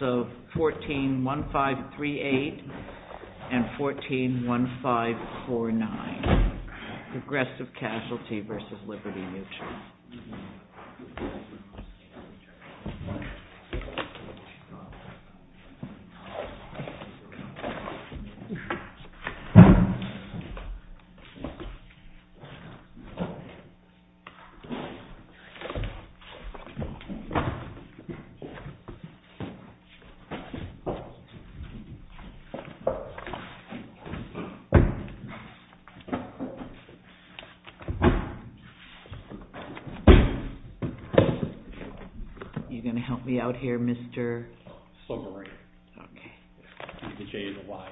So 141538 and 141549, Progressive Casualty v. Liberty Mutual. Are you going to help me out here, Mr.? Sobering. Okay. I need to change the wire.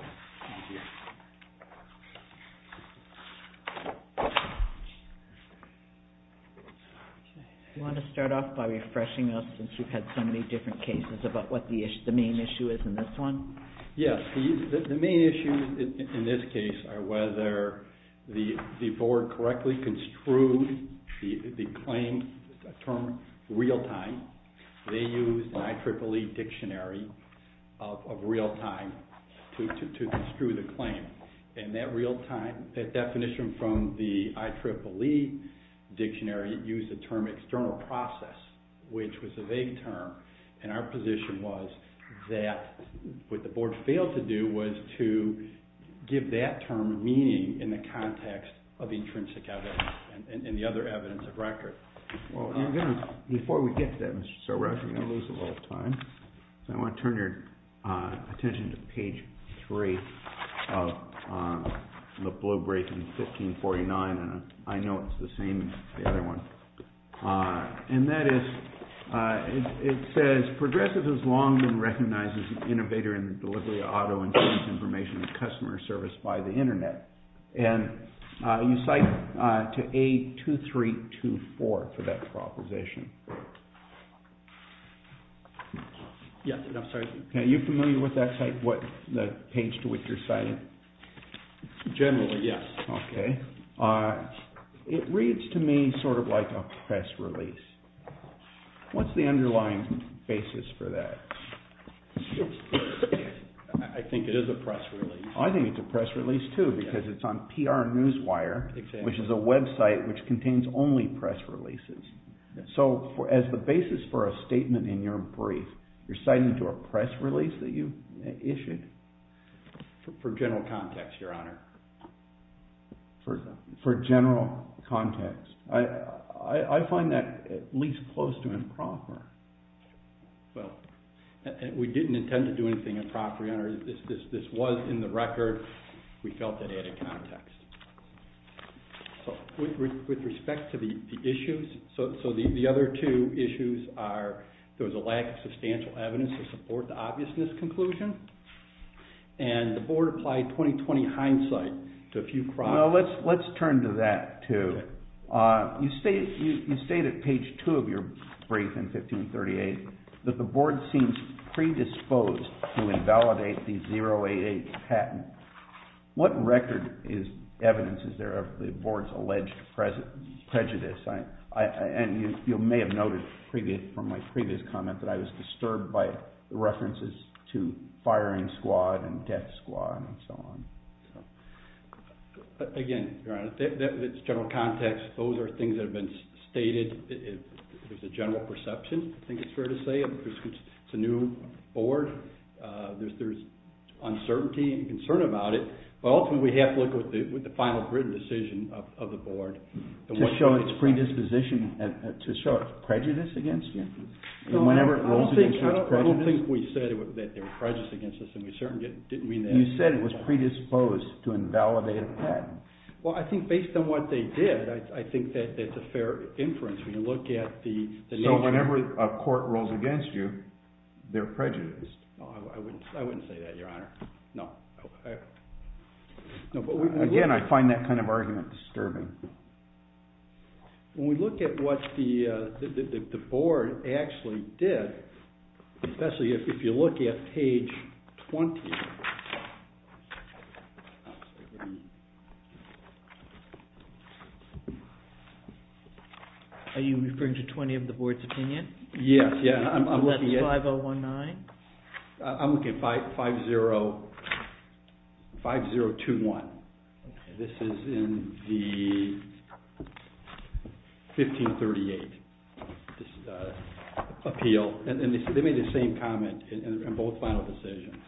Do you want to start off by refreshing us, since you've had so many different cases, about what the main issue is in this one? Yes. The main issue in this case are whether the board correctly construed the claim term real-time. They used an IEEE dictionary of real-time to construe the claim. And that real-time, that definition from the IEEE dictionary used the term external process, which was a vague term. And our position was that what the board failed to do was to give that term meaning in the context of intrinsic evidence and the other evidence of record. Before we get to that, Mr. Sobering, I'm going to lose a little time. So I want to turn your attention to page 3 of the blow-break in 1549. And I know it's the same as the other one. And that is, it says, Progressive has long been recognized as an innovator in the delivery of auto insurance information and customer service by the Internet. And you cite to A2324 for that proposition. Yes, I'm sorry. Are you familiar with that site, the page to which you're citing? Generally, yes. Okay. It reads to me sort of like a press release. What's the underlying basis for that? I think it is a press release. I think it's a press release, too, because it's on PR Newswire, which is a website which contains only press releases. So as the basis for a statement in your brief, you're citing to a press release that you issued? For general context, Your Honor. For general context. I find that at least close to improper. This was in the record. We felt it added context. With respect to the issues, so the other two issues are there was a lack of substantial evidence to support the obviousness conclusion. And the board applied 20-20 hindsight to a few crimes. Let's turn to that, too. You state at page 2 of your brief in 1538 that the board seems predisposed to invalidate the 088 patent. What record is evidence, is there, of the board's alleged prejudice? And you may have noted from my previous comment that I was disturbed by references to firing squad and death squad and so on. Again, Your Honor, that's general context. Those are things that have been stated. It's a general perception, I think it's fair to say. It's a new board. There's uncertainty and concern about it. Ultimately, we have to look with the final written decision of the board. To show its predisposition, to show its prejudice against you? I don't think we said that there was prejudice against us. You said it was predisposed to invalidate a patent. Well, I think based on what they did, I think that's a fair inference. So whenever a court rules against you, they're prejudiced? No, I wouldn't say that, Your Honor. No. Again, I find that kind of argument disturbing. When we look at what the board actually did, especially if you look at page 20, Are you referring to 20 of the board's opinion? Yes. Is that 5019? I'm looking at 5021. This is in the 1538 appeal. They made the same comment in both final decisions.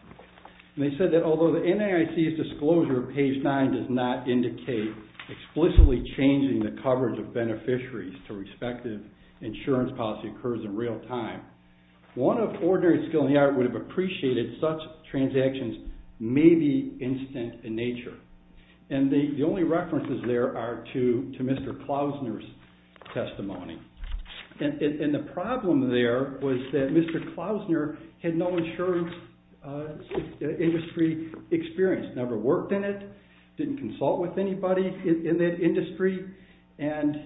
They said that although the NIC's disclosure of page 9 does not indicate explicitly changing the coverage of beneficiaries to respective insurance policy occurs in real time, one of ordinary skill in the art would have appreciated such transactions may be instant in nature. The only references there are to Mr. Klausner's testimony. And the problem there was that Mr. Klausner had no insurance industry experience, never worked in it, didn't consult with anybody in that industry. And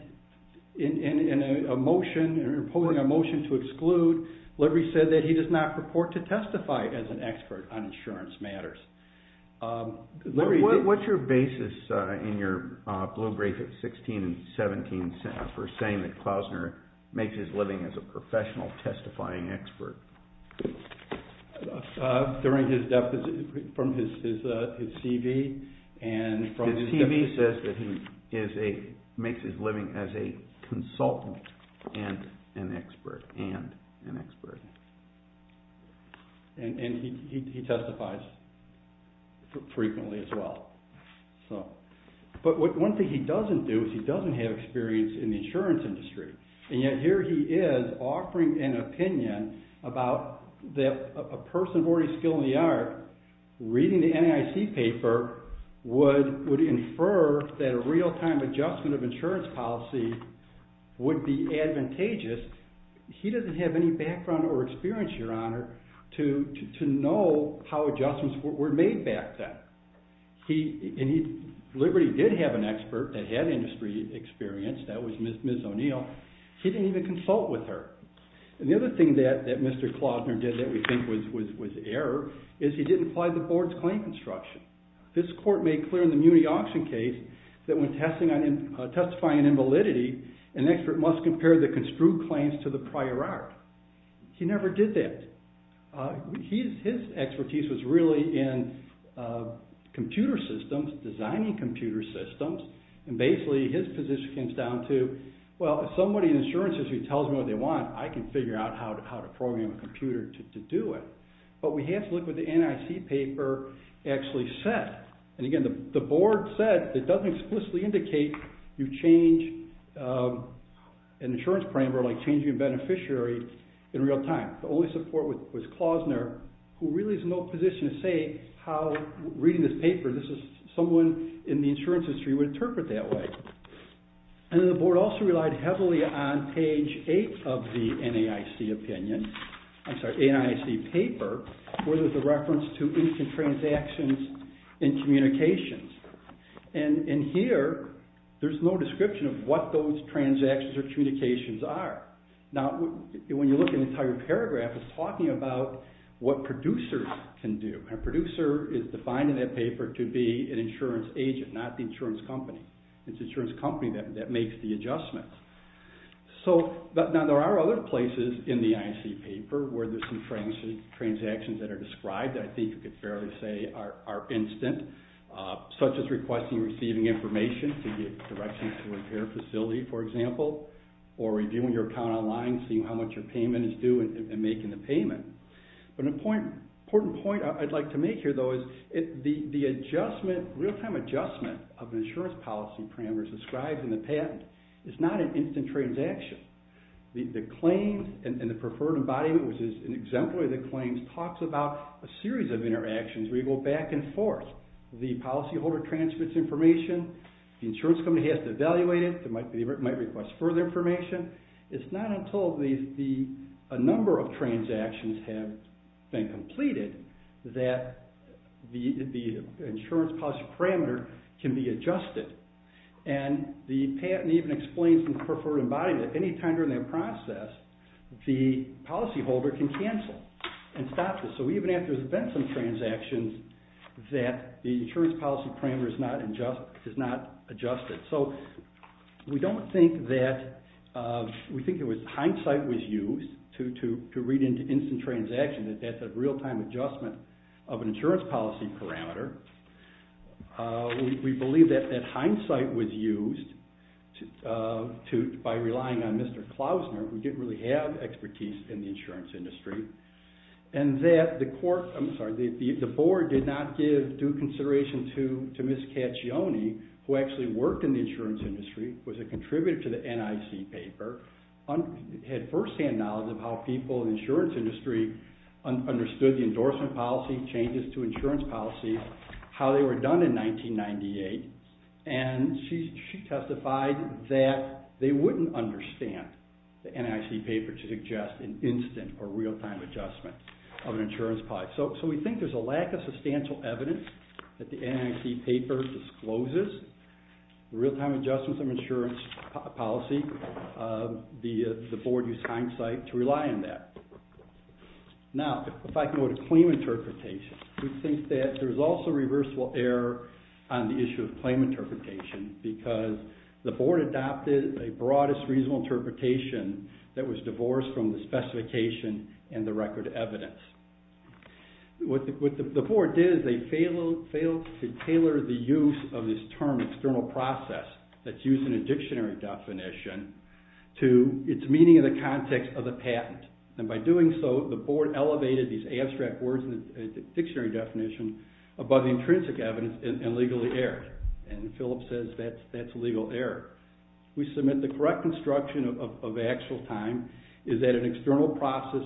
in a motion, in opposing a motion to exclude, Lurie said that he does not purport to testify as an expert on insurance matters. Lurie, what's your basis in your blue brief at 16 and 17 for saying that Mr. Klausner makes his living as a professional testifying expert? During his deficit from his CV. His CV says that he makes his living as a consultant and an expert. But one thing he doesn't do is he doesn't have experience in the insurance industry and yet here he is offering an opinion about a person of ordinary skill in the art reading the NIC paper would infer that a real time adjustment of insurance policy would be advantageous. He doesn't have any background or experience, your honor, to know how adjustments were made back then. And Lurie did have an expert that had industry experience. That was Ms. O'Neill. He didn't even consult with her. And the other thing that Mr. Klausner did that we think was error is he didn't apply the board's claim construction. This court made clear in the Muni Auction case that when testifying in validity, an expert must compare the construed claims to the prior art. He never did that. His expertise was really in computer systems, designing computer systems. And basically his position comes down to, well, if somebody in the insurance industry tells me what they want, I can figure out how to program a computer to do it. But we have to look at what the NIC paper actually said. And again, the board said it doesn't explicitly indicate you change an insurance parameter like changing a beneficiary in real time. The only support was Klausner, who really is in no position to say how reading this paper, this is someone in the insurance industry would interpret that way. And then the board also relied heavily on page 8 of the NIC opinion, I'm sorry, NIC paper, where there's a reference to income transactions and communications. And in here, there's no description of what those transactions or communications are. Now, when you look at the entire paragraph, it's talking about what producers can do. A producer is defined in that paper to be an insurance agent, not the insurance company. It's the insurance company that makes the adjustments. Now, there are other places in the NIC paper where there's some transactions that are described that I think you could fairly say are instant, such as requesting receiving information to get directions to a repair facility, for example, when you go online and see how much your payment is due and making the payment. But an important point I'd like to make here, though, is the real-time adjustment of the insurance policy parameters described in the patent is not an instant transaction. The claims and the preferred embodiment, which is an exemplary of the claims, talks about a series of interactions where you go back and forth. The policyholder transmits information. The insurance company has to evaluate it. They might request further information. It's not until a number of transactions have been completed that the insurance policy parameter can be adjusted. And the patent even explains in the preferred embodiment that any time during that process, the policyholder can cancel and stop this. So even after there's been some transactions, that the insurance policy parameter is not adjusted. So we don't think that we think it was hindsight was used to read into instant transactions that that's a real-time adjustment of an insurance policy parameter. We believe that that hindsight was used by relying on Mr. Klausner, who didn't really have expertise in the insurance industry, and that the board did not give due consideration to Ms. Caccione, who actually worked in the insurance industry, was a contributor to the NIC paper, had firsthand knowledge of how people in the insurance industry understood the endorsement policy, changes to insurance policy, how they were done in 1998. And she testified that they wouldn't understand the NIC paper to suggest an instant or real-time adjustment of an insurance policy. So we think there's a lack of substantial evidence that the NIC paper discloses real-time adjustments of insurance policy. The board used hindsight to rely on that. Now, if I can go to claim interpretation, we think that there's also reversible error on the issue of claim interpretation, because the board adopted a broadest reasonable interpretation that was divorced from the specification and the record evidence. What the board did is they failed to tailor the use of this term, external process, that's used in a dictionary definition, to its meaning in the context of the patent. And by doing so, the board elevated these abstract words in the dictionary definition above the intrinsic evidence and legally erred. And Philip says that's legal error. We submit the correct instruction of actual time is that an external process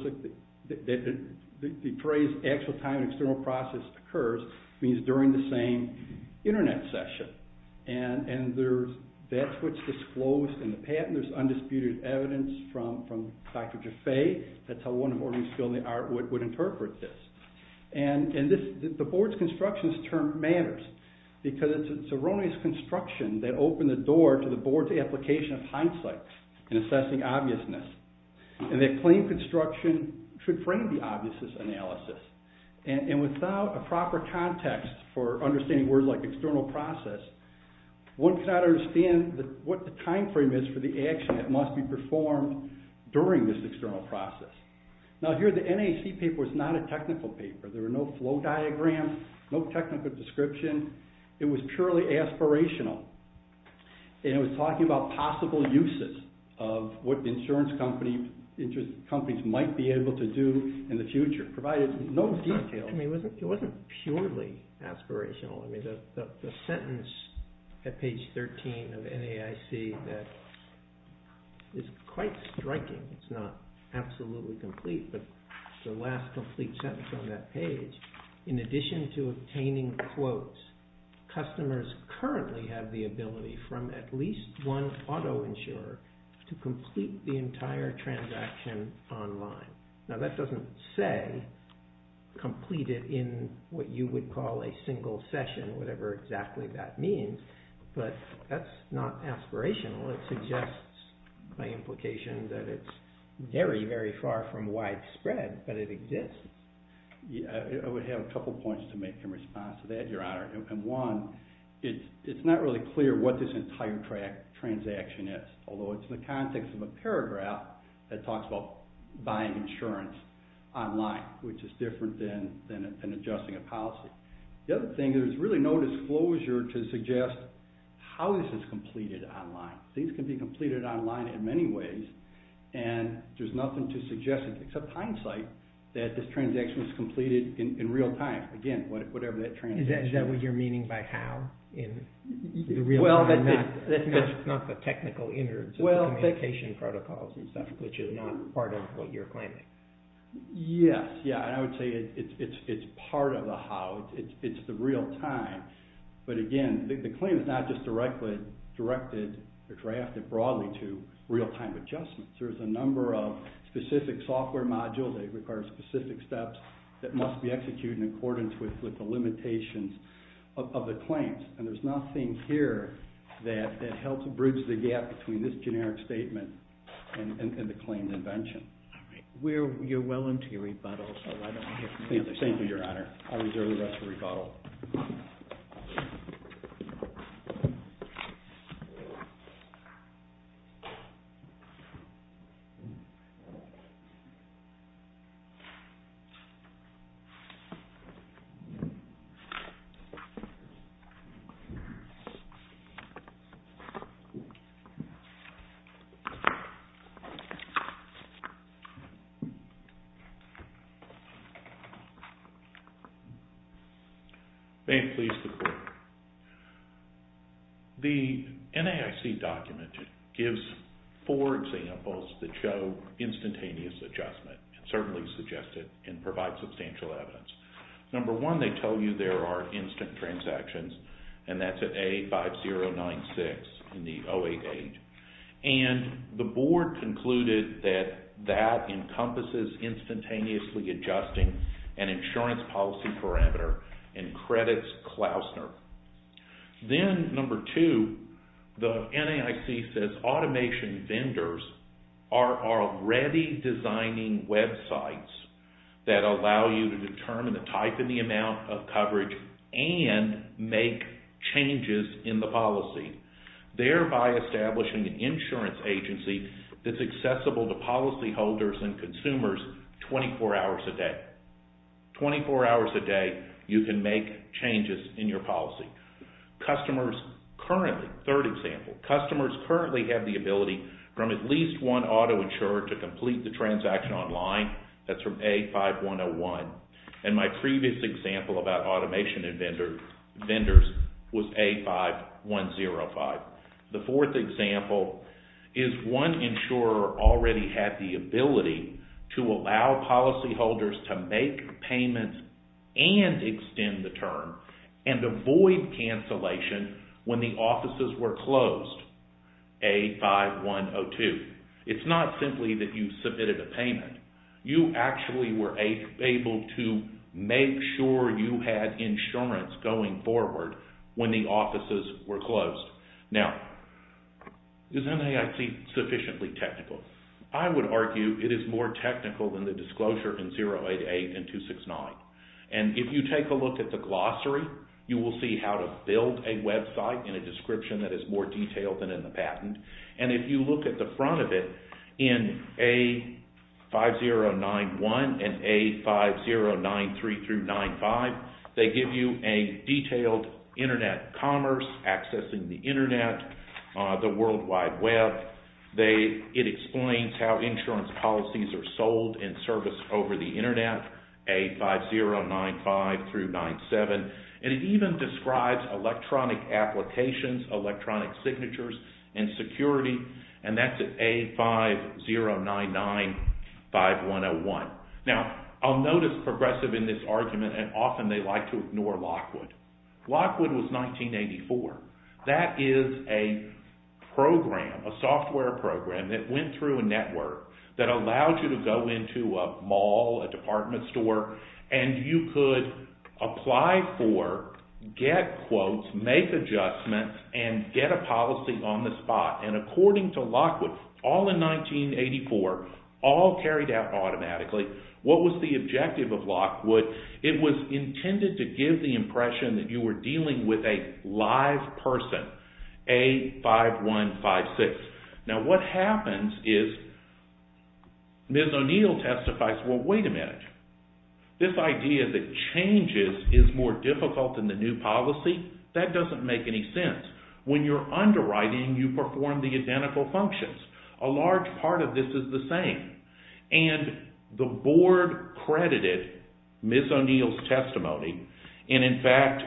that depraves actual time an external process occurs means during the same internet session. And that's what's disclosed in the patent. There's undisputed evidence from Dr. Jaffe. That's how one of Ornstein et al would interpret this. And the board's constructionist term matters, because it's a erroneous construction that opened the door to the board's application of hindsight in assessing obviousness. And that claim construction should frame the obviousness analysis. And without a proper context for understanding words like external process, one cannot understand what the time frame is for the action that must be performed during this external process. Now, here the NAC paper was not a technical paper. There were no flow diagrams, no technical description. It was purely aspirational. And it was talking about possible uses of what insurance companies might be able to do in the future, provided no details. I mean, it wasn't purely aspirational. I mean, the sentence at page 13 of NAC that is quite striking. It's not absolutely complete, but the last complete sentence on that page, in addition to obtaining quotes, customers currently have the ability from at least one auto insurer to complete the entire transaction online. Now, that doesn't say complete it in what you would call a single session, whatever exactly that means, but that's not aspirational. It suggests by implication that it's very, very far from widespread, but it exists. I would have a couple points to make in response to that, Your Honor. One, it's not really clear what this entire transaction is, although it's in the context of a paragraph that talks about buying insurance online, which is different than adjusting a policy. The other thing, there's really no disclosure to suggest how this is completed online. These can be completed online in many ways, and there's nothing to suggest, except hindsight, that this transaction is completed in real time. Again, whatever that transaction is. Is that what you're meaning by how in the real time? Well, that's not the technical innards of the communication protocols and stuff, which is not part of what you're claiming. Yes, yeah, and I would say it's part of the how. It's the real time, but again, the claim is not just directly directed or drafted broadly to real time adjustments. There's a number of specific software modules that require specific steps that must be executed in accordance with the limitations of the claims, and there's nothing here that helps bridge the gap between this generic statement and the claimed invention. All right. You're well into your rebuttal, so why don't we hear from you. Thank you, Your Honor. I'll reserve the rest of the rebuttal. Thank you. May it please the Court. The NAIC document gives four examples that show instantaneous adjustment and certainly suggest it and provide substantial evidence. Number one, they tell you there are instant transactions, and that's at A5096 in the 088, and the board concluded that that encompasses instantaneously adjusting an insurance policy parameter and credits Klausner. Then number two, the NAIC says automation vendors are already designing websites that allow you to determine the type and the amount of coverage and make changes in the policy, thereby establishing an insurance agency that's accessible to policyholders and consumers 24 hours a day. 24 hours a day you can make changes in your policy. Customers currently, third example, customers currently have the ability from at least one auto insurer to complete the transaction online. That's from A5101, and my previous example about automation and vendors was A5105. The fourth example is one insurer already had the ability to allow policyholders to make payments and extend the term and avoid cancellation when the offices were closed, A5102. It's not simply that you submitted a payment. You actually were able to make sure you had insurance going forward when the offices were closed. Now, is NAIC sufficiently technical? I would argue it is more technical than the disclosure in 088 and 269. If you take a look at the glossary, you will see how to build a website in a description that is more detailed than in the patent. If you look at the front of it, in A5091 and A5093-95, they give you a detailed internet commerce, accessing the internet, the World Wide Web. It explains how insurance policies are sold and serviced over the internet, A5095-97, and it even describes electronic applications, electronic signatures, and security, and that's at A5099-5101. Now, I'll notice Progressive in this argument, and often they like to ignore Lockwood. Lockwood was 1984. That is a program, a software program that went through a network that allowed you to go into a mall, a department store, and you could apply for, get quotes, make adjustments, and get a policy on the spot. And according to Lockwood, all in 1984, all carried out automatically. What was the objective of Lockwood? It was intended to give the impression that you were dealing with a live person, A5156. Now, what happens is Ms. O'Neill testifies, well, wait a minute. This idea that changes is more difficult than the new policy, that doesn't make any sense. When you're underwriting, you perform the identical functions. A large part of this is the same. And the board credited Ms. O'Neill's testimony, and in fact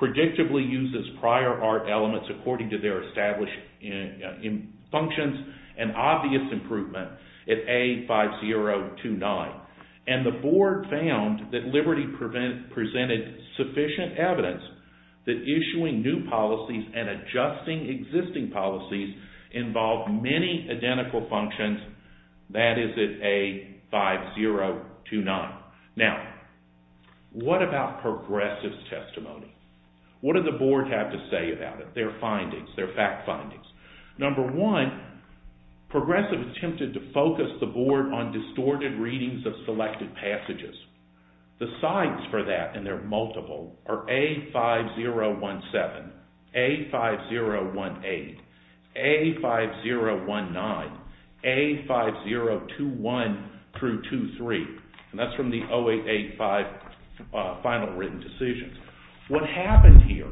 predictably uses prior art elements according to their established functions, an obvious improvement at A5029. And the board found that Liberty presented sufficient evidence that issuing new policies and adjusting existing policies involved many identical functions. That is at A5029. Now, what about Progressive's testimony? What did the board have to say about it, their findings, their fact findings? Number one, Progressive attempted to focus the board on distorted readings of selected passages. The signs for that, and they're multiple, are A5017, A5018, A5019, A5021-23, and that's from the 0885 final written decisions. What happened here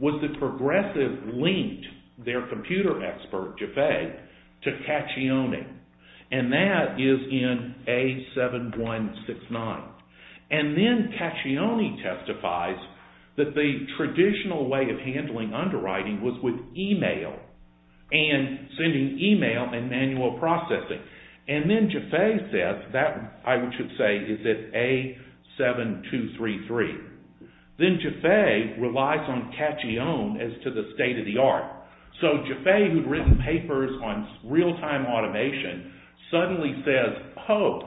was that Progressive linked their computer expert, Jaffe, to Cacchione, and that is in A7169. And then Cacchione testifies that the traditional way of handling underwriting was with e-mail, and sending e-mail and manual processing. And then Jaffe says, that I should say is at A7233. Then Jaffe relies on Cacchione as to the state of the art. So Jaffe, who'd written papers on real-time automation, suddenly says, oh,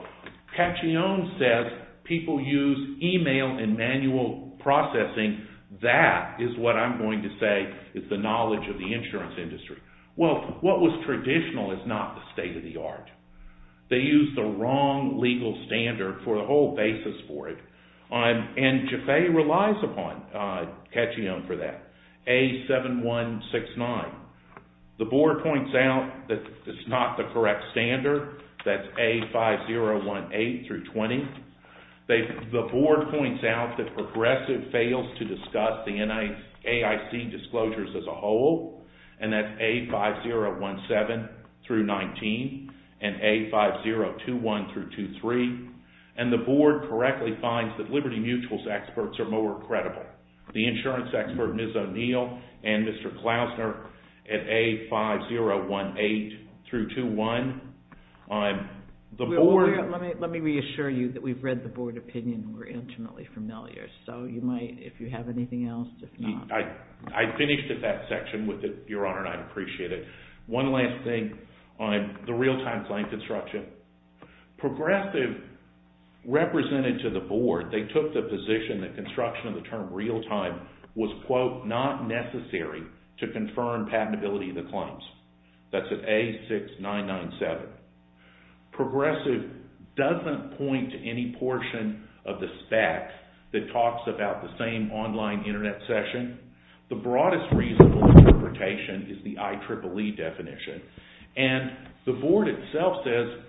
Cacchione says people use e-mail and manual processing, that is what I'm going to say is the knowledge of the insurance industry. Well, what was traditional is not the state of the art. They used the wrong legal standard for the whole basis for it. And Jaffe relies upon Cacchione for that. A7169. The board points out that it's not the correct standard, that's A5018-20. The board points out that Progressive fails to discuss the AIC disclosures as a whole, and that's A5017-19 and A5021-23. And the board correctly finds that Liberty Mutual's experts are more credible. The insurance expert Ms. O'Neill and Mr. Klausner at A5018-21. Let me reassure you that we've read the board opinion and we're intimately familiar, so you might, if you have anything else, I finished at that section with it, Your Honor, and I'd appreciate it. One last thing on the real-time client construction. Progressive represented to the board, they took the position that construction of the term real-time was, quote, not necessary to confirm patentability of the claims. That's at A6997. Progressive doesn't point to any portion of the specs that talks about the same online internet session. The broadest reasonable interpretation is the IEEE definition. And the board itself says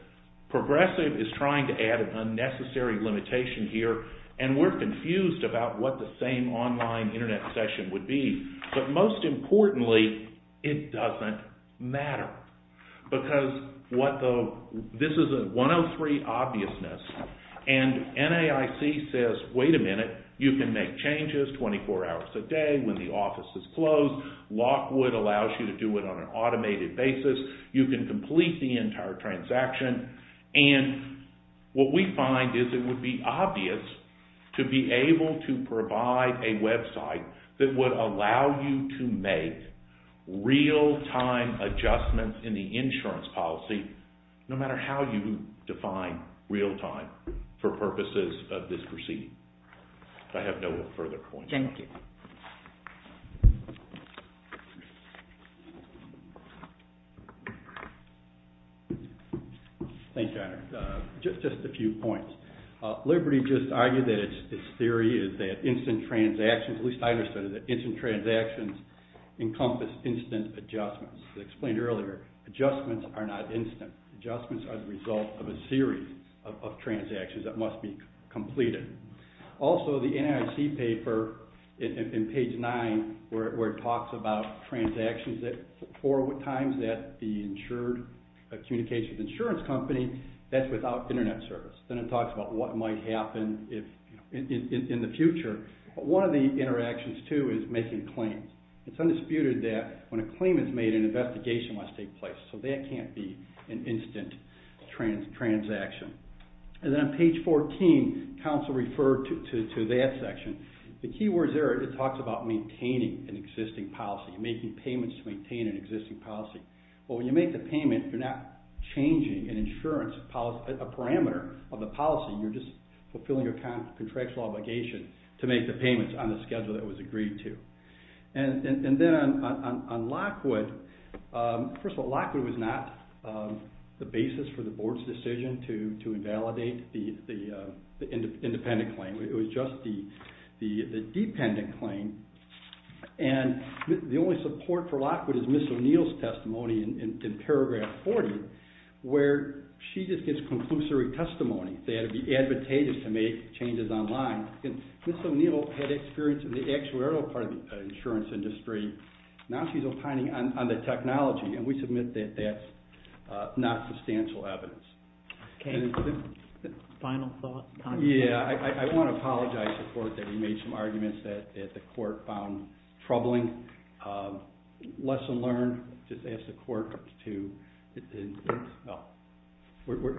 Progressive is trying to add an unnecessary limitation here and we're confused about what the same online internet session would be. But most importantly, it doesn't matter. Because what the, this is a 103 obviousness. And NAIC says, wait a minute, you can make changes 24 hours a day when the office is closed. Lockwood allows you to do it on an automated basis. You can complete the entire transaction. And what we find is it would be obvious to be able to provide a website that would allow you to make real-time adjustments in the insurance policy no matter how you define real-time for purposes of this proceeding. I have no further points. Thank you. Thanks, John. Just a few points. Liberty just argued that its theory is that instant transactions, at least I understood it, that instant transactions encompass instant adjustments. They explained earlier adjustments are not instant. Adjustments are the result of a series of transactions that must be completed. Also, the NAIC paper in page 9 where it talks about transactions that four times that the insured communications insurance company, that's without internet service. Then it talks about what might happen in the future. One of the interactions, too, is making claims. It's undisputed that when a claim is made, an investigation must take place. So that can't be an instant transaction. And then on page 14, counsel referred to that section. The key words there, it talks about maintaining an existing policy, making payments to maintain an existing policy. Well, when you make the payment, you're not changing an insurance policy, a parameter of the policy. You're just fulfilling a contractual obligation to make the payments on the schedule that was agreed to. And then on Lockwood, first of all, Lockwood was not the basis for the board's decision to make an independent claim. It was just the dependent claim. And the only support for Lockwood is Ms. O'Neill's testimony in paragraph 40 where she just gives conclusory testimony that it would be advantageous to make changes online. Ms. O'Neill had experience in the actuarial part of the insurance industry. Now she's opining on the technology. And we submit that that's not substantial evidence. Okay. Final thoughts? Yeah, I want to apologize to the court that we made some arguments that the court found troubling. Lesson learned, just ask the court to, well,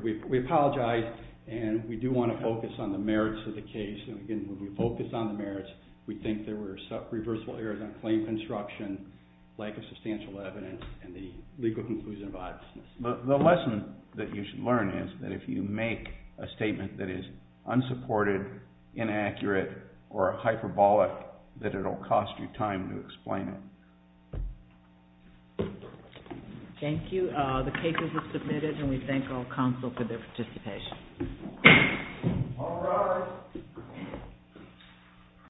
we apologize and we do want to focus on the merits of the case. And again, when we focus on the merits, we think there were some reversible errors on claim construction, lack of substantial evidence, and the legal conclusion of oddness. The lesson that you should learn is that if you make a statement that is unsupported, inaccurate, or hyperbolic, that it will cost you time to explain it. Thank you. The case is submitted and we thank all counsel for their participation.